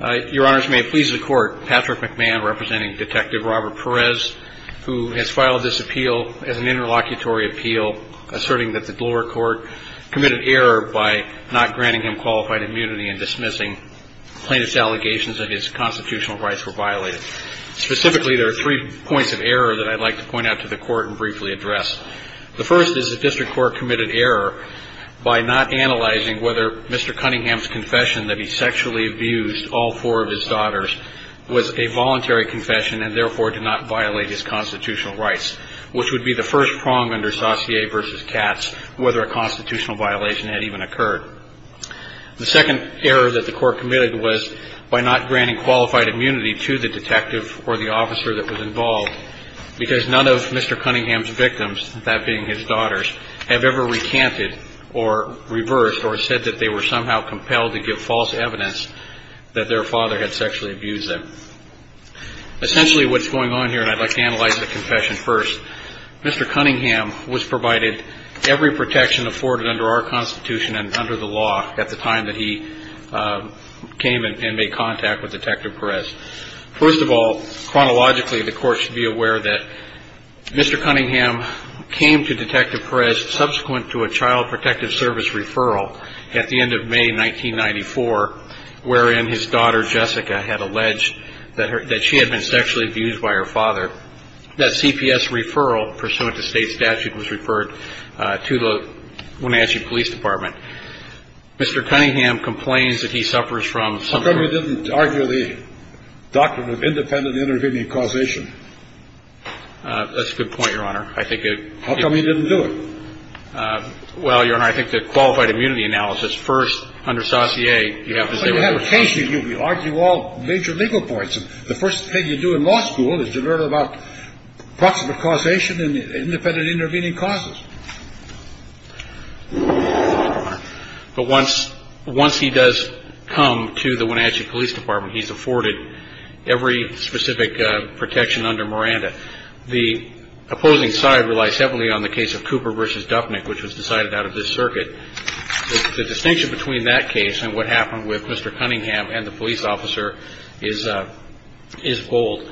Your Honors, may it please the Court, Patrick McMahon representing Detective Robert Perez, who has filed this appeal as an interlocutory appeal, asserting that the Delaware Court committed error by not granting him qualified immunity and dismissing plaintiff's allegations that his constitutional rights were violated. Specifically, there are three points of error that I'd like to point out to the Court and briefly address. The first is the District Court committed error by not analyzing whether Mr. Cunningham's confession that he sexually abused all four of his daughters was a voluntary confession and therefore did not violate his constitutional rights, which would be the first prong under Saussure v. Katz whether a constitutional violation had even occurred. The second error that the Court committed was by not granting qualified immunity to the detective or the officer that was involved because none of Mr. Cunningham's victims, that being his daughters, have ever recanted or reversed or said that they were somehow compelled to give false evidence that their father had sexually abused them. Essentially, what's going on here, and I'd like to analyze the confession first, Mr. Cunningham was provided every protection afforded under our Constitution and under the law at the time that he came and made contact with Detective Perez. First of all, chronologically, the Court should be aware that Mr. Cunningham came to Detective Perez subsequent to a Child Protective Service referral at the end of May 1994, wherein his daughter, Jessica, had alleged that she had been sexually abused by her father. That CPS referral pursuant to state statute was referred to the Wenatchee Police Department. Mr. Cunningham complains that he suffers from some of the ‑‑ How come you didn't argue the doctrine of independent intervening causation? That's a good point, Your Honor. I think it ‑‑ How come you didn't do it? Well, Your Honor, I think the qualified immunity analysis, first under Saussure, you have to say ‑‑ Well, you have occasion. You argue all major legal points. The first thing you do in law school is to learn about proximate causation and independent intervening causes. But once he does come to the Wenatchee Police Department, he's afforded every specific protection under Miranda. The opposing side relies heavily on the case of Cooper v. Dupnick, which was decided out of this circuit. The distinction between that case and what happened with Mr. Cunningham and the police officer is bold.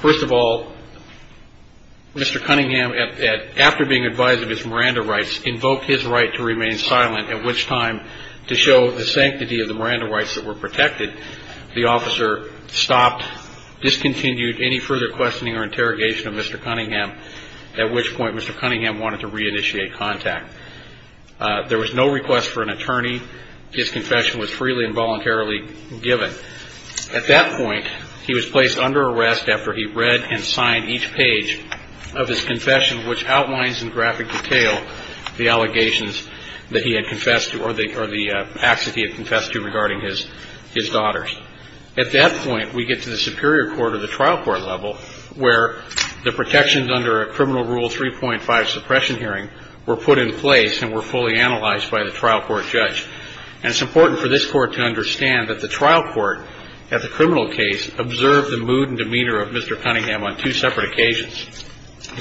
First of all, Mr. Cunningham, after being advised of his Miranda rights, invoked his right to remain silent, at which time, to show the sanctity of the Miranda rights that were protected, the officer stopped, discontinued any further questioning or interrogation of Mr. Cunningham, at which point Mr. Cunningham wanted to reinitiate contact. There was no request for an attorney. His confession was freely and voluntarily given. At that point, he was placed under arrest after he read and signed each page of his confession, which outlines in graphic detail the allegations that he had confessed to or the acts that he had confessed to regarding his daughters. At that point, we get to the superior court or the trial court level, where the protections under a criminal rule 3.5 suppression hearing were put in place and were fully analyzed by the trial court judge. And it's important for this court to understand that the trial court at the criminal case observed the mood and demeanor of Mr. Cunningham on two separate occasions,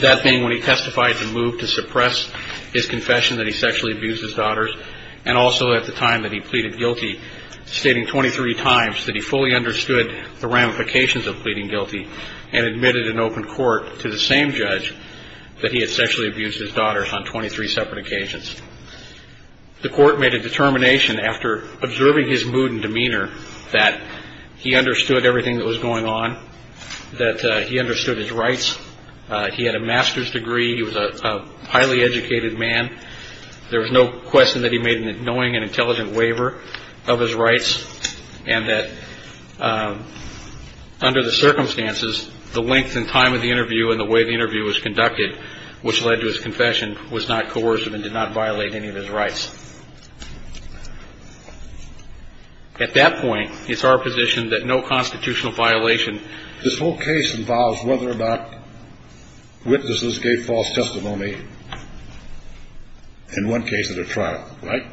that being when he testified to move to suppress his confession that he sexually abused his daughters and also at the time that he pleaded guilty, stating 23 times that he fully understood the ramifications of pleading guilty and admitted in open court to the same judge that he had sexually abused his daughters on 23 separate occasions. The court made a determination after observing his mood and demeanor that he understood everything that was going on, that he understood his rights. He had a master's degree. He was a highly educated man. There was no question that he made an annoying and intelligent waiver of his rights and that under the circumstances, the length and time of the interview and the way the interview was conducted, which led to his confession, was not coercive and did not violate any of his rights. At that point, it's our position that no constitutional violation. This whole case involves whether or not witnesses gave false testimony in one case at a trial, right?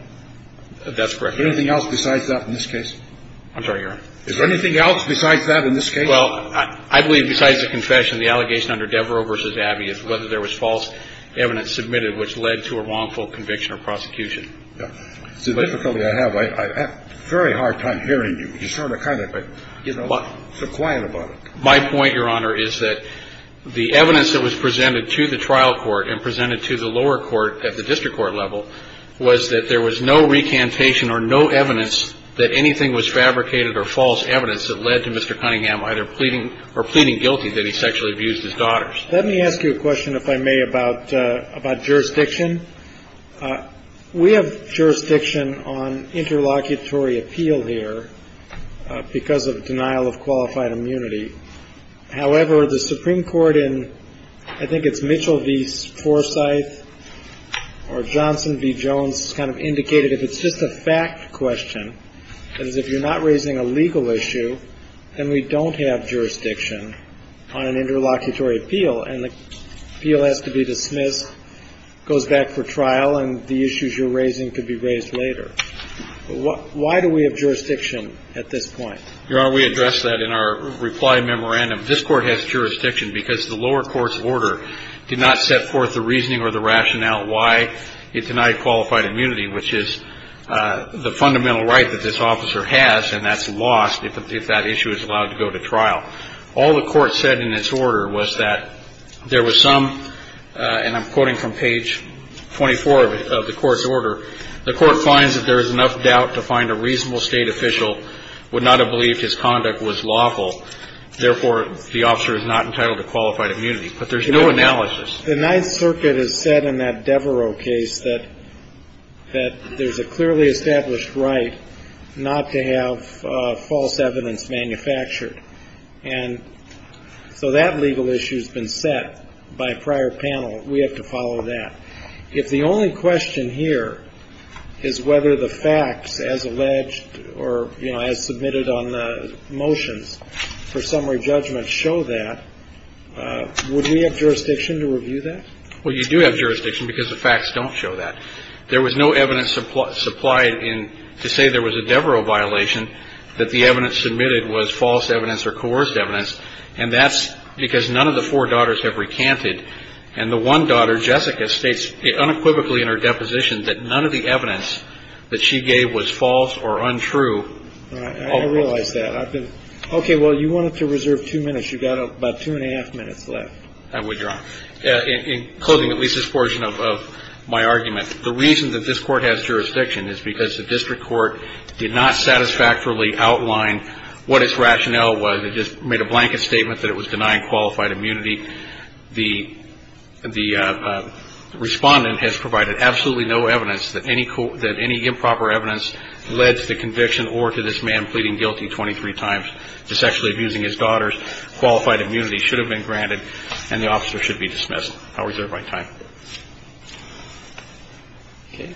That's correct. Is there anything else besides that in this case? I'm sorry, Your Honor. Is there anything else besides that in this case? Well, I believe besides the confession, the allegation under Devereaux v. Abbey is whether there was false evidence submitted which led to a wrongful conviction or prosecution. It's a difficulty I have. I have a very hard time hearing you. You sort of kind of, you know, so quiet about it. My point, Your Honor, is that the evidence that was presented to the trial court and presented to the lower court at the district court level was that there was no recantation or no evidence that anything was fabricated or false evidence that led to Mr. Cunningham either pleading or pleading guilty that he sexually abused his daughters. Let me ask you a question, if I may, about jurisdiction. We have jurisdiction on interlocutory appeal here because of denial of qualified immunity. However, the Supreme Court in I think it's Mitchell v. Forsyth or Johnson v. Jones has kind of indicated if it's just a fact question, that is if you're not raising a legal issue, then we don't have jurisdiction on an interlocutory appeal, and the appeal has to be dismissed, goes back for trial, and the issues you're raising could be raised later. Why do we have jurisdiction at this point? Your Honor, we addressed that in our reply memorandum. This Court has jurisdiction because the lower court's order did not set forth the reasoning or the rationale why it denied qualified immunity, which is the fundamental right that this officer has, and that's lost if that issue is allowed to go to trial. All the Court said in its order was that there was some, and I'm quoting from page 24 of the Court's order, the Court finds that there is enough doubt to find a reasonable State official would not have believed his conduct was lawful. Therefore, the officer is not entitled to qualified immunity. But there's no analysis. The Ninth Circuit has said in that Devereux case that there's a clearly established right not to have false evidence manufactured. And so that legal issue has been set by a prior panel. We have to follow that. If the only question here is whether the facts as alleged or, you know, as submitted on the motions for summary judgment show that, would we have jurisdiction to review that? Well, you do have jurisdiction because the facts don't show that. There was no evidence supplied in to say there was a Devereux violation, that the evidence submitted was false evidence or coerced evidence, and that's because none of the four daughters have recanted. And the one daughter, Jessica, states unequivocally in her deposition that none of the evidence that she gave was false or untrue. All right. I realize that. Okay. Well, you wanted to reserve two minutes. You've got about two and a half minutes left. I would, Your Honor. In closing at least this portion of my argument, the reason that this Court has jurisdiction is because the district court did not satisfactorily outline what its rationale was. It just made a blanket statement that it was denying qualified immunity. The respondent has provided absolutely no evidence that any improper evidence led to the conviction or to this man pleading guilty 23 times to sexually abusing his daughters. Qualified immunity should have been granted, and the officer should be dismissed. I'll reserve my time. Okay.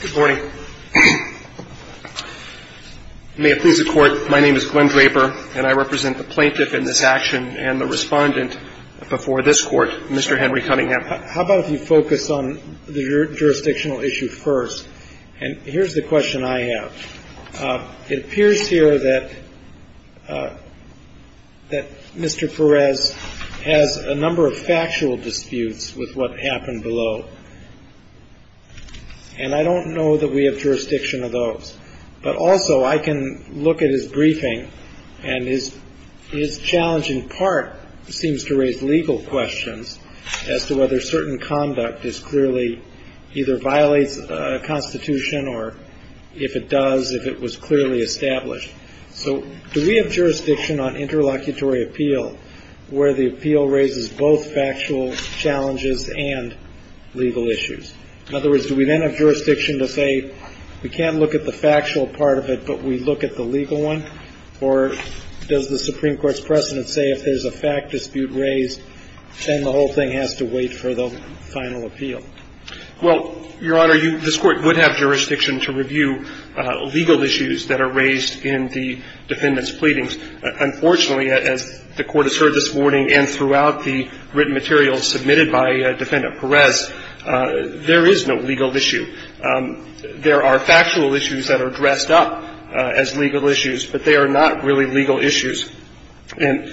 Good morning. May it please the Court, my name is Glenn Draper, and I represent the plaintiff in this action and the respondent before this Court, Mr. Henry Cunningham. How about if you focus on the jurisdictional issue first? And here's the question I have. It appears here that Mr. Perez has a number of factual disputes with what happened below, and I don't know that we have jurisdiction of those. But also I can look at his briefing, and his challenge in part seems to raise legal questions as to whether certain conduct is clearly either violates a constitution or if it does, if it was clearly established. So do we have jurisdiction on interlocutory appeal where the appeal raises both factual challenges and legal issues? In other words, do we then have jurisdiction to say we can't look at the factual part of it, but we look at the legal one? Or does the Supreme Court's precedent say if there's a fact dispute raised, then the whole thing has to wait for the final appeal? Well, Your Honor, this Court would have jurisdiction to review legal issues that are raised in the defendant's pleadings. Unfortunately, as the Court has heard this morning and throughout the written materials submitted by Defendant Perez, there is no legal issue. There are factual issues that are dressed up as legal issues, but they are not really legal issues. And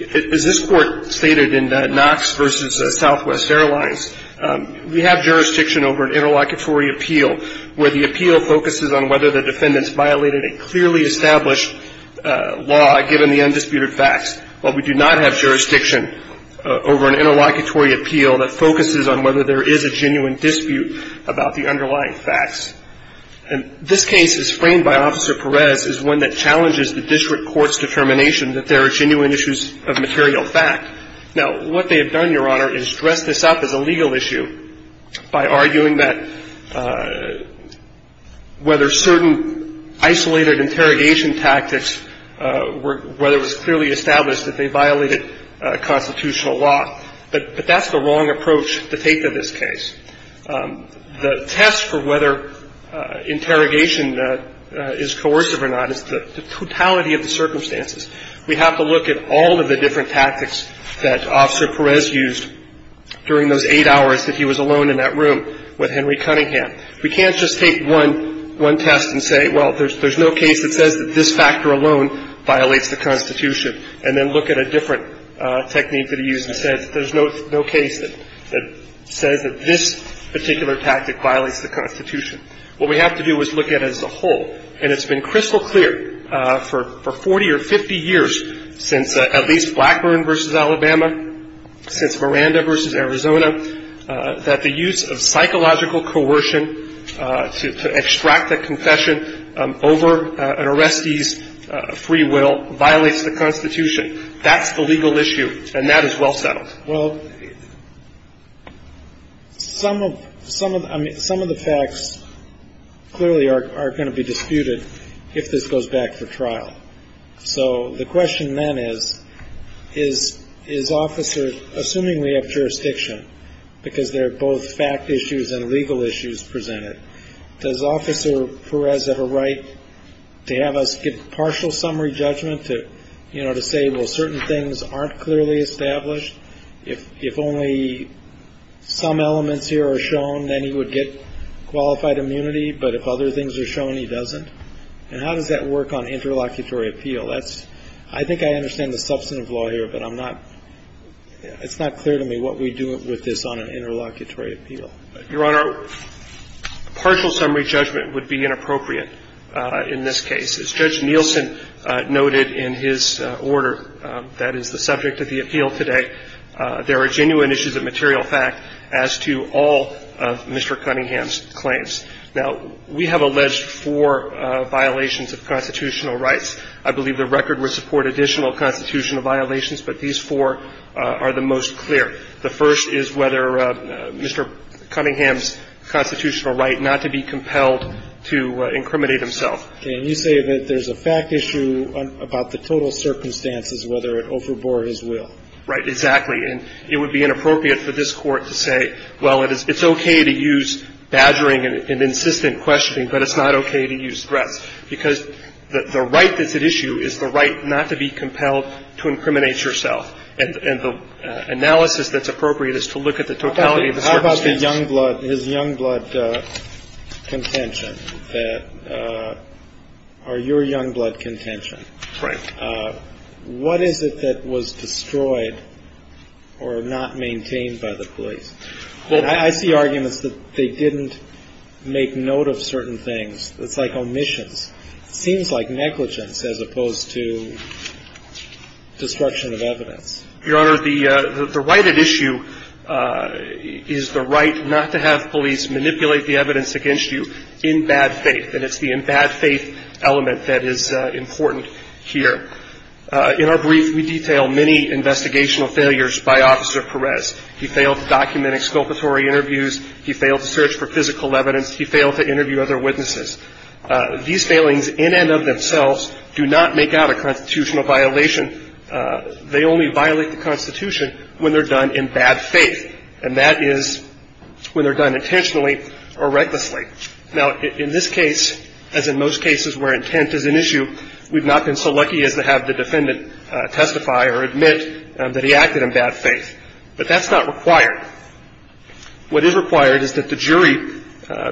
as this Court stated in Knox v. Southwest Airlines, we have jurisdiction over an interlocutory appeal where the appeal focuses on whether the defendant has violated a clearly established law given the undisputed facts. But we do not have jurisdiction over an interlocutory appeal that focuses on whether there is a genuine dispute about the underlying facts. And this case, as framed by Officer Perez, is one that challenges the district court's determination that there are genuine issues of material fact. Now, what they have done, Your Honor, is dress this up as a legal issue by arguing that whether certain isolated interrogation tactics were, whether it was clearly established that they violated constitutional law. But that's the wrong approach to take to this case. The test for whether interrogation is coercive or not is the totality of the circumstances. We have to look at all of the different tactics that Officer Perez used during those eight hours that he was alone in that room with Henry Cunningham. We can't just take one test and say, well, there's no case that says that this factor alone violates the Constitution, and then look at a different technique that he used and said there's no case that says that this particular tactic violates the Constitution. What we have to do is look at it as a whole. And it's been crystal clear for 40 or 50 years since at least Blackburn v. Alabama, since Miranda v. Arizona, that the use of psychological coercion to extract a confession over an arrestee's free will violates the Constitution. That's the legal issue, and that is well settled. Well, some of the facts clearly are going to be disputed if this goes back for trial. So the question then is, is Officer, assuming we have jurisdiction, because there is jurisdiction, is it right to have us give partial summary judgment to say, well, certain things aren't clearly established? If only some elements here are shown, then he would get qualified immunity, but if other things are shown, he doesn't? And how does that work on interlocutory appeal? I think I understand the substantive law here, but it's not clear to me what we do with this on an interlocutory appeal. Your Honor, partial summary judgment would be inappropriate in this case. As Judge Nielsen noted in his order that is the subject of the appeal today, there are genuine issues of material fact as to all of Mr. Cunningham's claims. Now, we have alleged four violations of constitutional rights. I believe the record would support additional constitutional violations, but these four are the most clear. The first is whether Mr. Cunningham's constitutional right not to be compelled to incriminate himself. Okay. And you say that there's a fact issue about the total circumstances, whether it overbore his will. Right. Exactly. And it would be inappropriate for this Court to say, well, it's okay to use badgering and insistent questioning, but it's not okay to use threats, because the right that's at issue is the right not to be compelled to incriminate yourself. And the analysis that's appropriate is to look at the totality of the circumstances. How about the young blood, his young blood contention, that or your young blood contention? Right. What is it that was destroyed or not maintained by the police? I see arguments that they didn't make note of certain things. It's like omissions. It seems like negligence as opposed to destruction of evidence. Your Honor, the right at issue is the right not to have police manipulate the evidence against you in bad faith, and it's the in bad faith element that is important here. In our brief, we detail many investigational failures by Officer Perez. He failed to document exculpatory interviews. He failed to search for physical evidence. He failed to interview other witnesses. These failings in and of themselves do not make out a constitutional violation. They only violate the Constitution when they're done in bad faith, and that is when they're done intentionally or recklessly. Now, in this case, as in most cases where intent is an issue, we've not been so lucky as to have the defendant testify or admit that he acted in bad faith, but that's not required. What is required is that the jury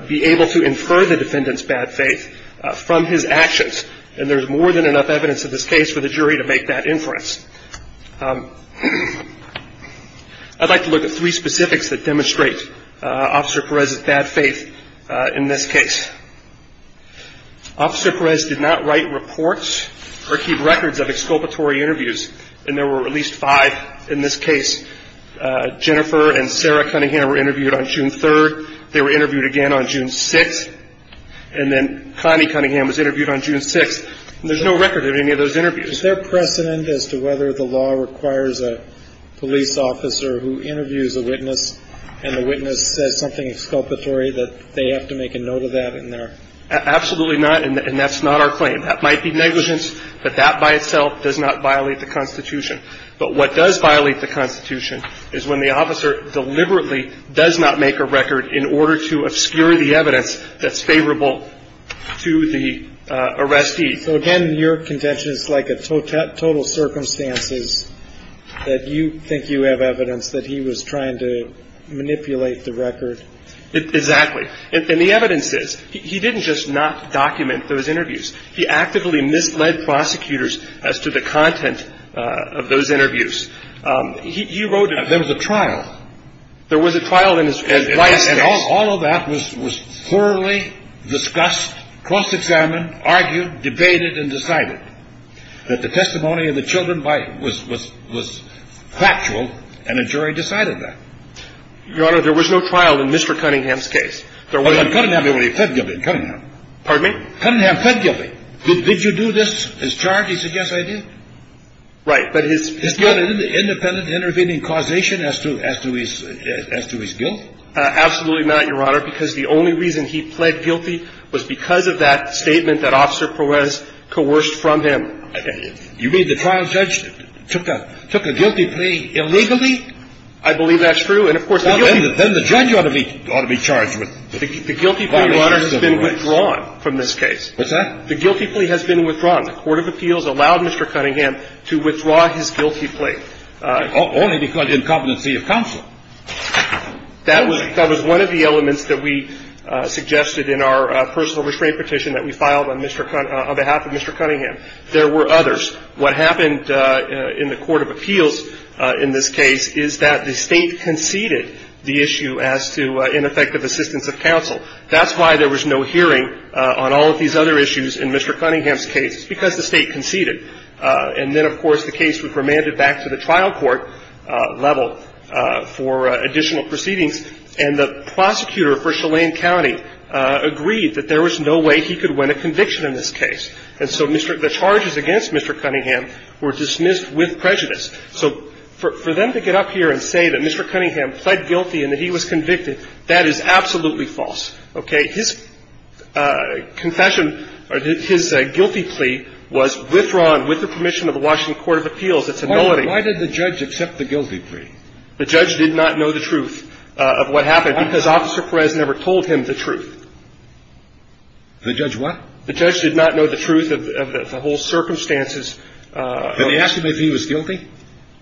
be able to infer the defendant's bad faith from his actions, and there's more than enough evidence in this case for the jury to make that inference. I'd like to look at three specifics that demonstrate Officer Perez's bad faith in this case. Officer Perez did not write reports or keep records of exculpatory interviews, and there were at least five in this case. Jennifer and Sarah Cunningham were interviewed on June 3rd. They were interviewed again on June 6th, and then Connie Cunningham was interviewed on June 6th. And there's no record of any of those interviews. Is there precedent as to whether the law requires a police officer who interviews a witness and the witness says something exculpatory that they have to make a note of that in there? Absolutely not, and that's not our claim. That might be negligence, but that by itself does not violate the Constitution. But what does violate the Constitution is when the officer deliberately does not make a record in order to obscure the evidence that's favorable to the arrestee. So again, your contention is like a total circumstances that you think you have evidence that he was trying to manipulate the record. Exactly. And the evidence is. He didn't just not document those interviews. He actively misled prosecutors as to the content of those interviews. He wrote. There was a trial. There was a trial in his last case. And all of that was thoroughly discussed, cross-examined, argued, debated, and decided that the testimony of the children was factual, and a jury decided that. Your Honor, there was no trial in Mr. Cunningham's case. In Cunningham. Cunningham pled guilty. Did you do this, his charge? He said yes, I did. Right. But his. His independent intervening causation as to his guilt. Absolutely not, Your Honor, because the only reason he pled guilty was because of that statement that Officer Perez coerced from him. You mean the trial judge took a guilty plea illegally? I believe that's true. Then the judge ought to be charged. The guilty plea has been withdrawn from this case. What's that? The guilty plea has been withdrawn. The court of appeals allowed Mr. Cunningham to withdraw his guilty plea. Only because of incompetency of counsel. That was one of the elements that we suggested in our personal restraint petition that we filed on behalf of Mr. Cunningham. There were others. What happened in the court of appeals in this case is that the State conceded the issue as to ineffective assistance of counsel. That's why there was no hearing on all of these other issues in Mr. Cunningham's case. It's because the State conceded. And then, of course, the case was remanded back to the trial court level for additional proceedings. And the prosecutor for Chelan County agreed that there was no way he could win a conviction in this case. And so the charges against Mr. Cunningham were dismissed with prejudice. So for them to get up here and say that Mr. Cunningham pled guilty and that he was convicted, that is absolutely false. Okay. His confession or his guilty plea was withdrawn with the permission of the Washington Court of Appeals. It's a nullity. Why did the judge accept the guilty plea? The judge did not know the truth of what happened because Officer Perez never told him the truth. The judge what? The judge did not know the truth of the whole circumstances. And he asked him if he was guilty?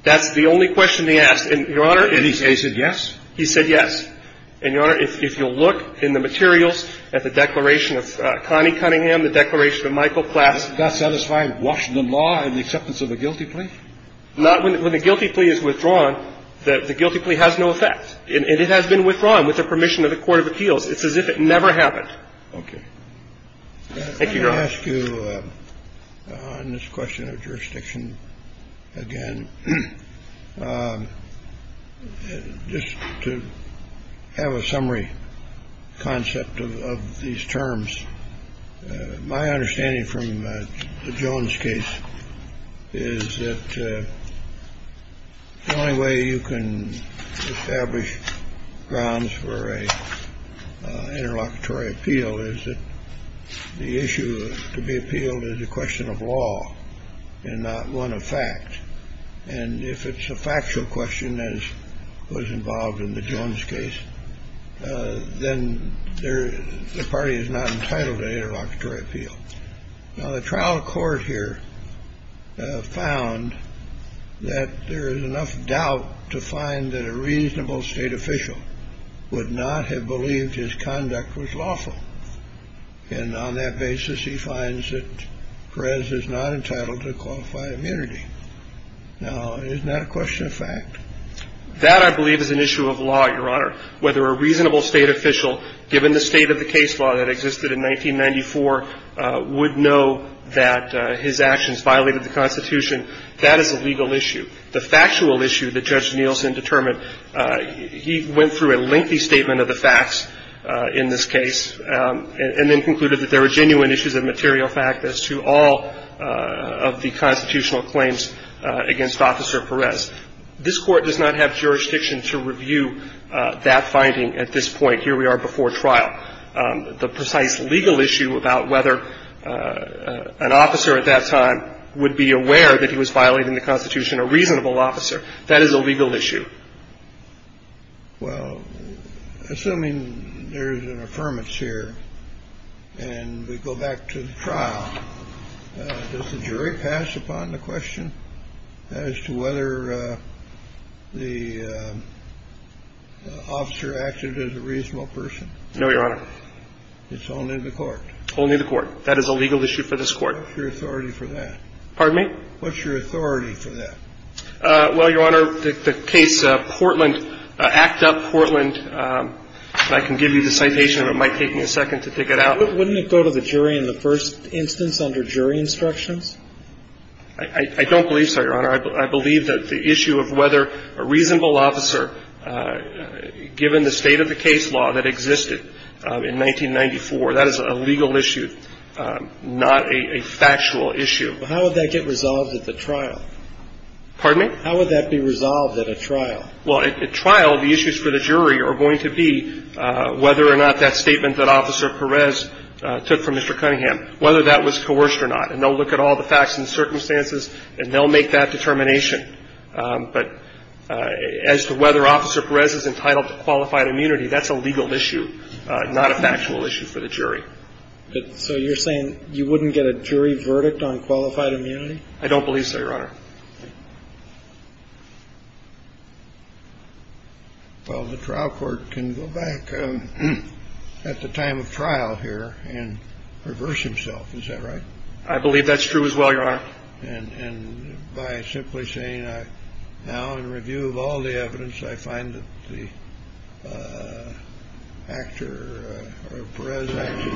That's the only question he asked. And, Your Honor, he said yes. He said yes. And, Your Honor, if you'll look in the materials at the declaration of Connie Cunningham, the declaration of Michael Klass. Does that satisfy Washington law in the acceptance of a guilty plea? Not when the guilty plea is withdrawn. The guilty plea has no effect. And it has been withdrawn with the permission of the Court of Appeals. It's as if it never happened. Okay. Thank you, Your Honor. I'm going to ask you on this question of jurisdiction again just to have a summary concept of these terms. My understanding from the Jones case is that the only way you can establish grounds for a interlocutory appeal is that the issue to be appealed is a question of law and not one of fact. And if it's a factual question, as was involved in the Jones case, then the party is not entitled to interlocutory appeal. Now, the trial court here found that there is enough doubt to find that a reasonable state official would not have believed his conduct was lawful. And on that basis, he finds that Perez is not entitled to qualify immunity. Now, isn't that a question of fact? That, I believe, is an issue of law, Your Honor. Whether a reasonable state official, given the state of the case law that existed in 1994, would know that his actions violated the Constitution, that is a legal issue. The factual issue that Judge Nielsen determined, he went through a lengthy statement of the facts in this case and then concluded that there were genuine issues of material fact as to all of the constitutional claims against Officer Perez. This Court does not have jurisdiction to review that finding at this point. Here we are before trial. The precise legal issue about whether an officer at that time would be aware that he was violating the Constitution, a reasonable officer, that is a legal issue. Well, assuming there is an affirmance here and we go back to the trial, does the jury pass upon the question as to whether the officer acted as a reasonable person? No, Your Honor. It's only the Court. Only the Court. That is a legal issue for this Court. What's your authority for that? Pardon me? What's your authority for that? Well, Your Honor, the case Portland, Act Up Portland, and I can give you the citation and it might take me a second to dig it out. Wouldn't it go to the jury in the first instance under jury instructions? I don't believe so, Your Honor. I believe that the issue of whether a reasonable officer, given the state of the case law that existed in 1994, that is a legal issue, not a factual issue. How would that get resolved at the trial? Pardon me? How would that be resolved at a trial? Well, at trial, the issues for the jury are going to be whether or not that statement that Officer Perez took from Mr. Cunningham, whether that was coerced or not. And they'll look at all the facts and circumstances and they'll make that determination. But as to whether Officer Perez is entitled to qualified immunity, that's a legal issue, not a factual issue for the jury. So you're saying you wouldn't get a jury verdict on qualified immunity? I don't believe so, Your Honor. Well, the trial court can go back at the time of trial here and reverse himself. Is that right? I believe that's true as well, Your Honor. And by simply saying now, in review of all the evidence, I find that the actor or Perez acted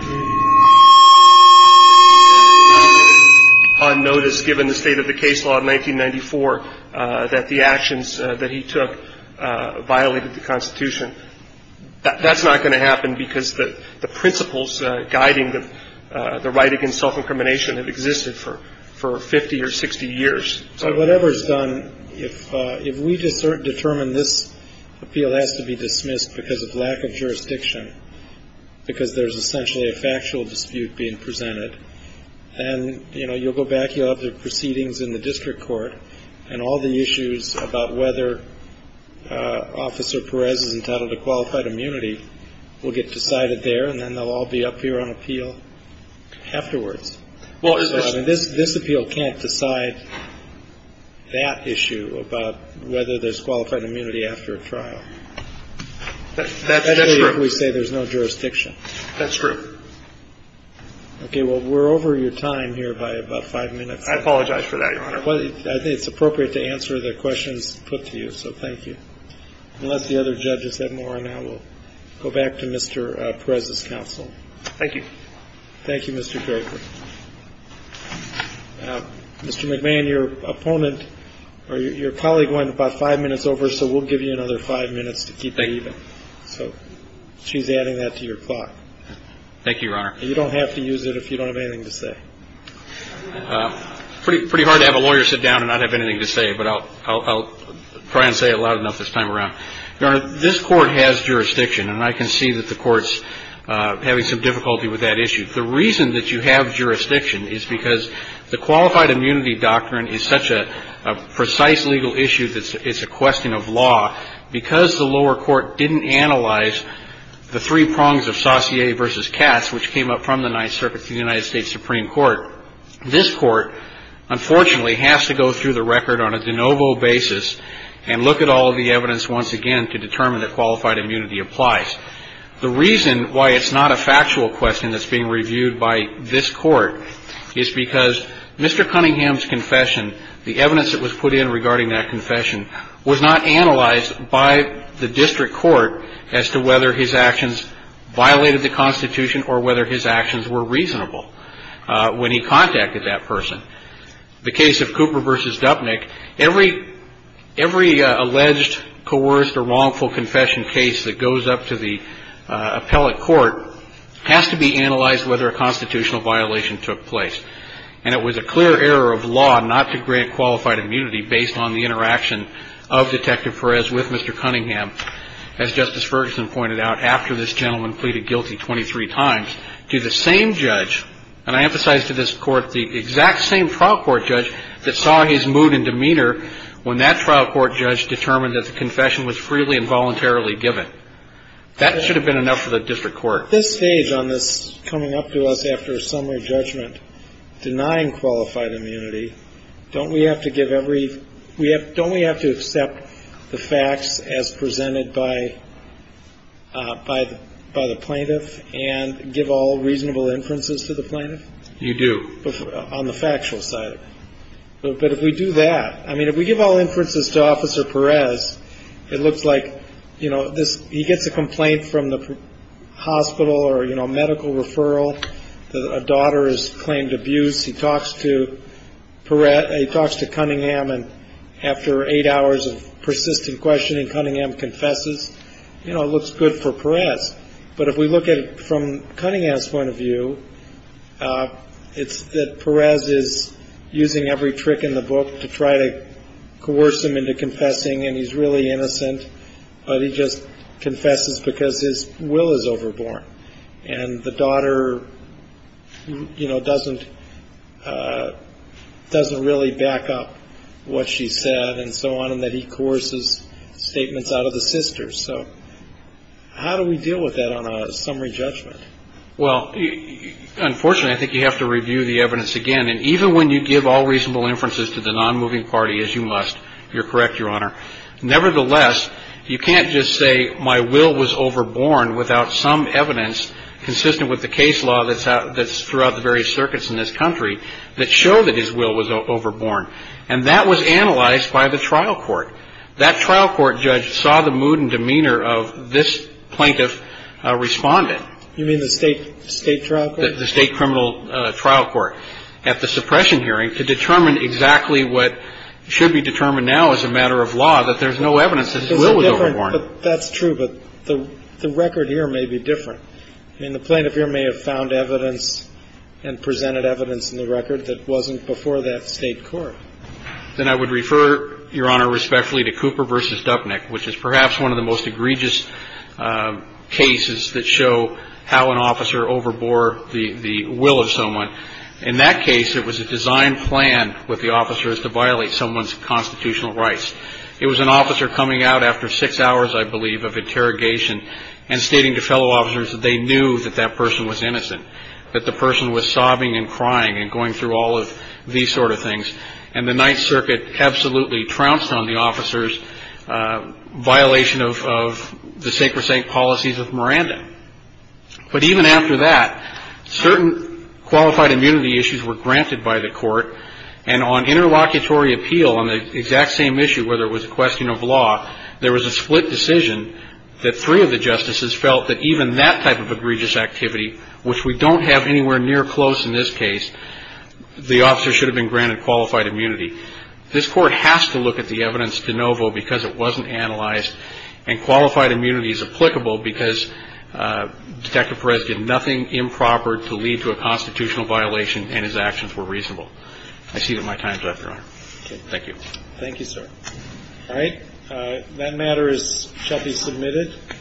on notice, given the state of the case law in 1994, that the actions that he took violated the Constitution. That's not going to happen because the principles guiding the right against self-incrimination have existed for 50 or 60 years. So whatever is done, if we determine this appeal has to be dismissed because of lack of jurisdiction, because there's essentially a factual dispute being presented, then, you know, you'll go back, you'll have the proceedings in the district court and all the issues about whether Officer Perez is entitled to qualified immunity will get decided there and then they'll all be up here on appeal afterwards. This appeal can't decide that issue about whether there's qualified immunity after a trial. That's true. Especially if we say there's no jurisdiction. That's true. Okay. Well, we're over your time here by about five minutes. I apologize for that, Your Honor. I think it's appropriate to answer the questions put to you, so thank you. Unless the other judges have more on that, we'll go back to Mr. Perez's counsel. Thank you. Thank you, Mr. Draper. Mr. McMahon, your opponent or your colleague went about five minutes over, so we'll give you another five minutes to keep it even. So she's adding that to your clock. Thank you, Your Honor. You don't have to use it if you don't have anything to say. Pretty hard to have a lawyer sit down and not have anything to say, but I'll try and say it loud enough this time around. Your Honor, this Court has jurisdiction, and I can see that the Court's having some difficulty with that issue. The reason that you have jurisdiction is because the qualified immunity doctrine is such a precise legal issue that it's a question of law. Because the lower court didn't analyze the three prongs of Saussure v. Katz, which came up from the Ninth Circuit to the United States Supreme Court, this Court, unfortunately, has to go through the record on a de novo basis and look at all of the evidence once again to determine that qualified immunity applies. The reason why it's not a factual question that's being reviewed by this Court is because Mr. Cunningham's confession, the evidence that was put in regarding that confession, was not analyzed by the district court as to whether his actions violated the Constitution or whether his actions were reasonable when he contacted that person. The case of Cooper v. Dupnick, every alleged, coerced, or wrongful confession case that goes up to the appellate court has to be analyzed whether a constitutional violation took place. And it was a clear error of law not to grant qualified immunity based on the interaction of Detective Perez with Mr. Cunningham, as Justice Ferguson pointed out, after this gentleman pleaded guilty 23 times to the same judge, and I emphasize to this Court, the exact same trial court judge that saw his mood and demeanor when that trial court judge determined that the confession was freely and voluntarily given. That should have been enough for the district court. At this stage on this coming up to us after a summary judgment denying qualified immunity, don't we have to give every, don't we have to accept the facts as presented by the plaintiff and give all reasonable inferences to the plaintiff? You do. On the factual side. But if we do that, I mean, if we give all inferences to Officer Perez, it looks like, you know, he gets a complaint from the hospital or, you know, medical referral. A daughter has claimed abuse. He talks to Perez. He talks to Cunningham, and after eight hours of persistent questioning, Cunningham confesses. You know, it looks good for Perez. But if we look at it from Cunningham's point of view, it's that Perez is using every trick in the book to try to coerce him into confessing, and he's really innocent, but he just confesses because his will is overborn. And the daughter, you know, doesn't really back up what she said and so on, and that he coerces statements out of the sisters. So how do we deal with that on a summary judgment? Well, unfortunately, I think you have to review the evidence again. And even when you give all reasonable inferences to the nonmoving party, as you must, you're correct, Your Honor, nevertheless, you can't just say my will was overborn without some evidence consistent with the case law that's throughout the various circuits in this country that show that his will was overborn. And that was analyzed by the trial court. That trial court judge saw the mood and demeanor of this plaintiff respondent. You mean the state trial court? The state criminal trial court. And the state trial court, at the suppression hearing, could determine exactly what should be determined now as a matter of law, that there's no evidence that his will was overborn. That's different. That's true, but the record here may be different. I mean, the plaintiff here may have found evidence and presented evidence in the record that wasn't before that state court. Then I would refer, Your Honor, respectfully to Cooper v. In that case, it was a design plan with the officers to violate someone's constitutional rights. It was an officer coming out after six hours, I believe, of interrogation, and stating to fellow officers that they knew that that person was innocent, that the person was sobbing and crying and going through all of these sort of things, and the Ninth Circuit absolutely trounced on the officers' violation of the sacred saint policies of Miranda. But even after that, certain qualified immunity issues were granted by the court, and on interlocutory appeal on the exact same issue, whether it was a question of law, there was a split decision that three of the justices felt that even that type of egregious activity, which we don't have anywhere near close in this case, the officer should have been granted qualified immunity. This court has to look at the evidence de novo because it wasn't analyzed, and qualified immunity is applicable because Detective Perez did nothing improper to lead to a constitutional violation, and his actions were reasonable. I cede my time to that, Your Honor. Thank you. Thank you, sir. All right. That matter shall be submitted.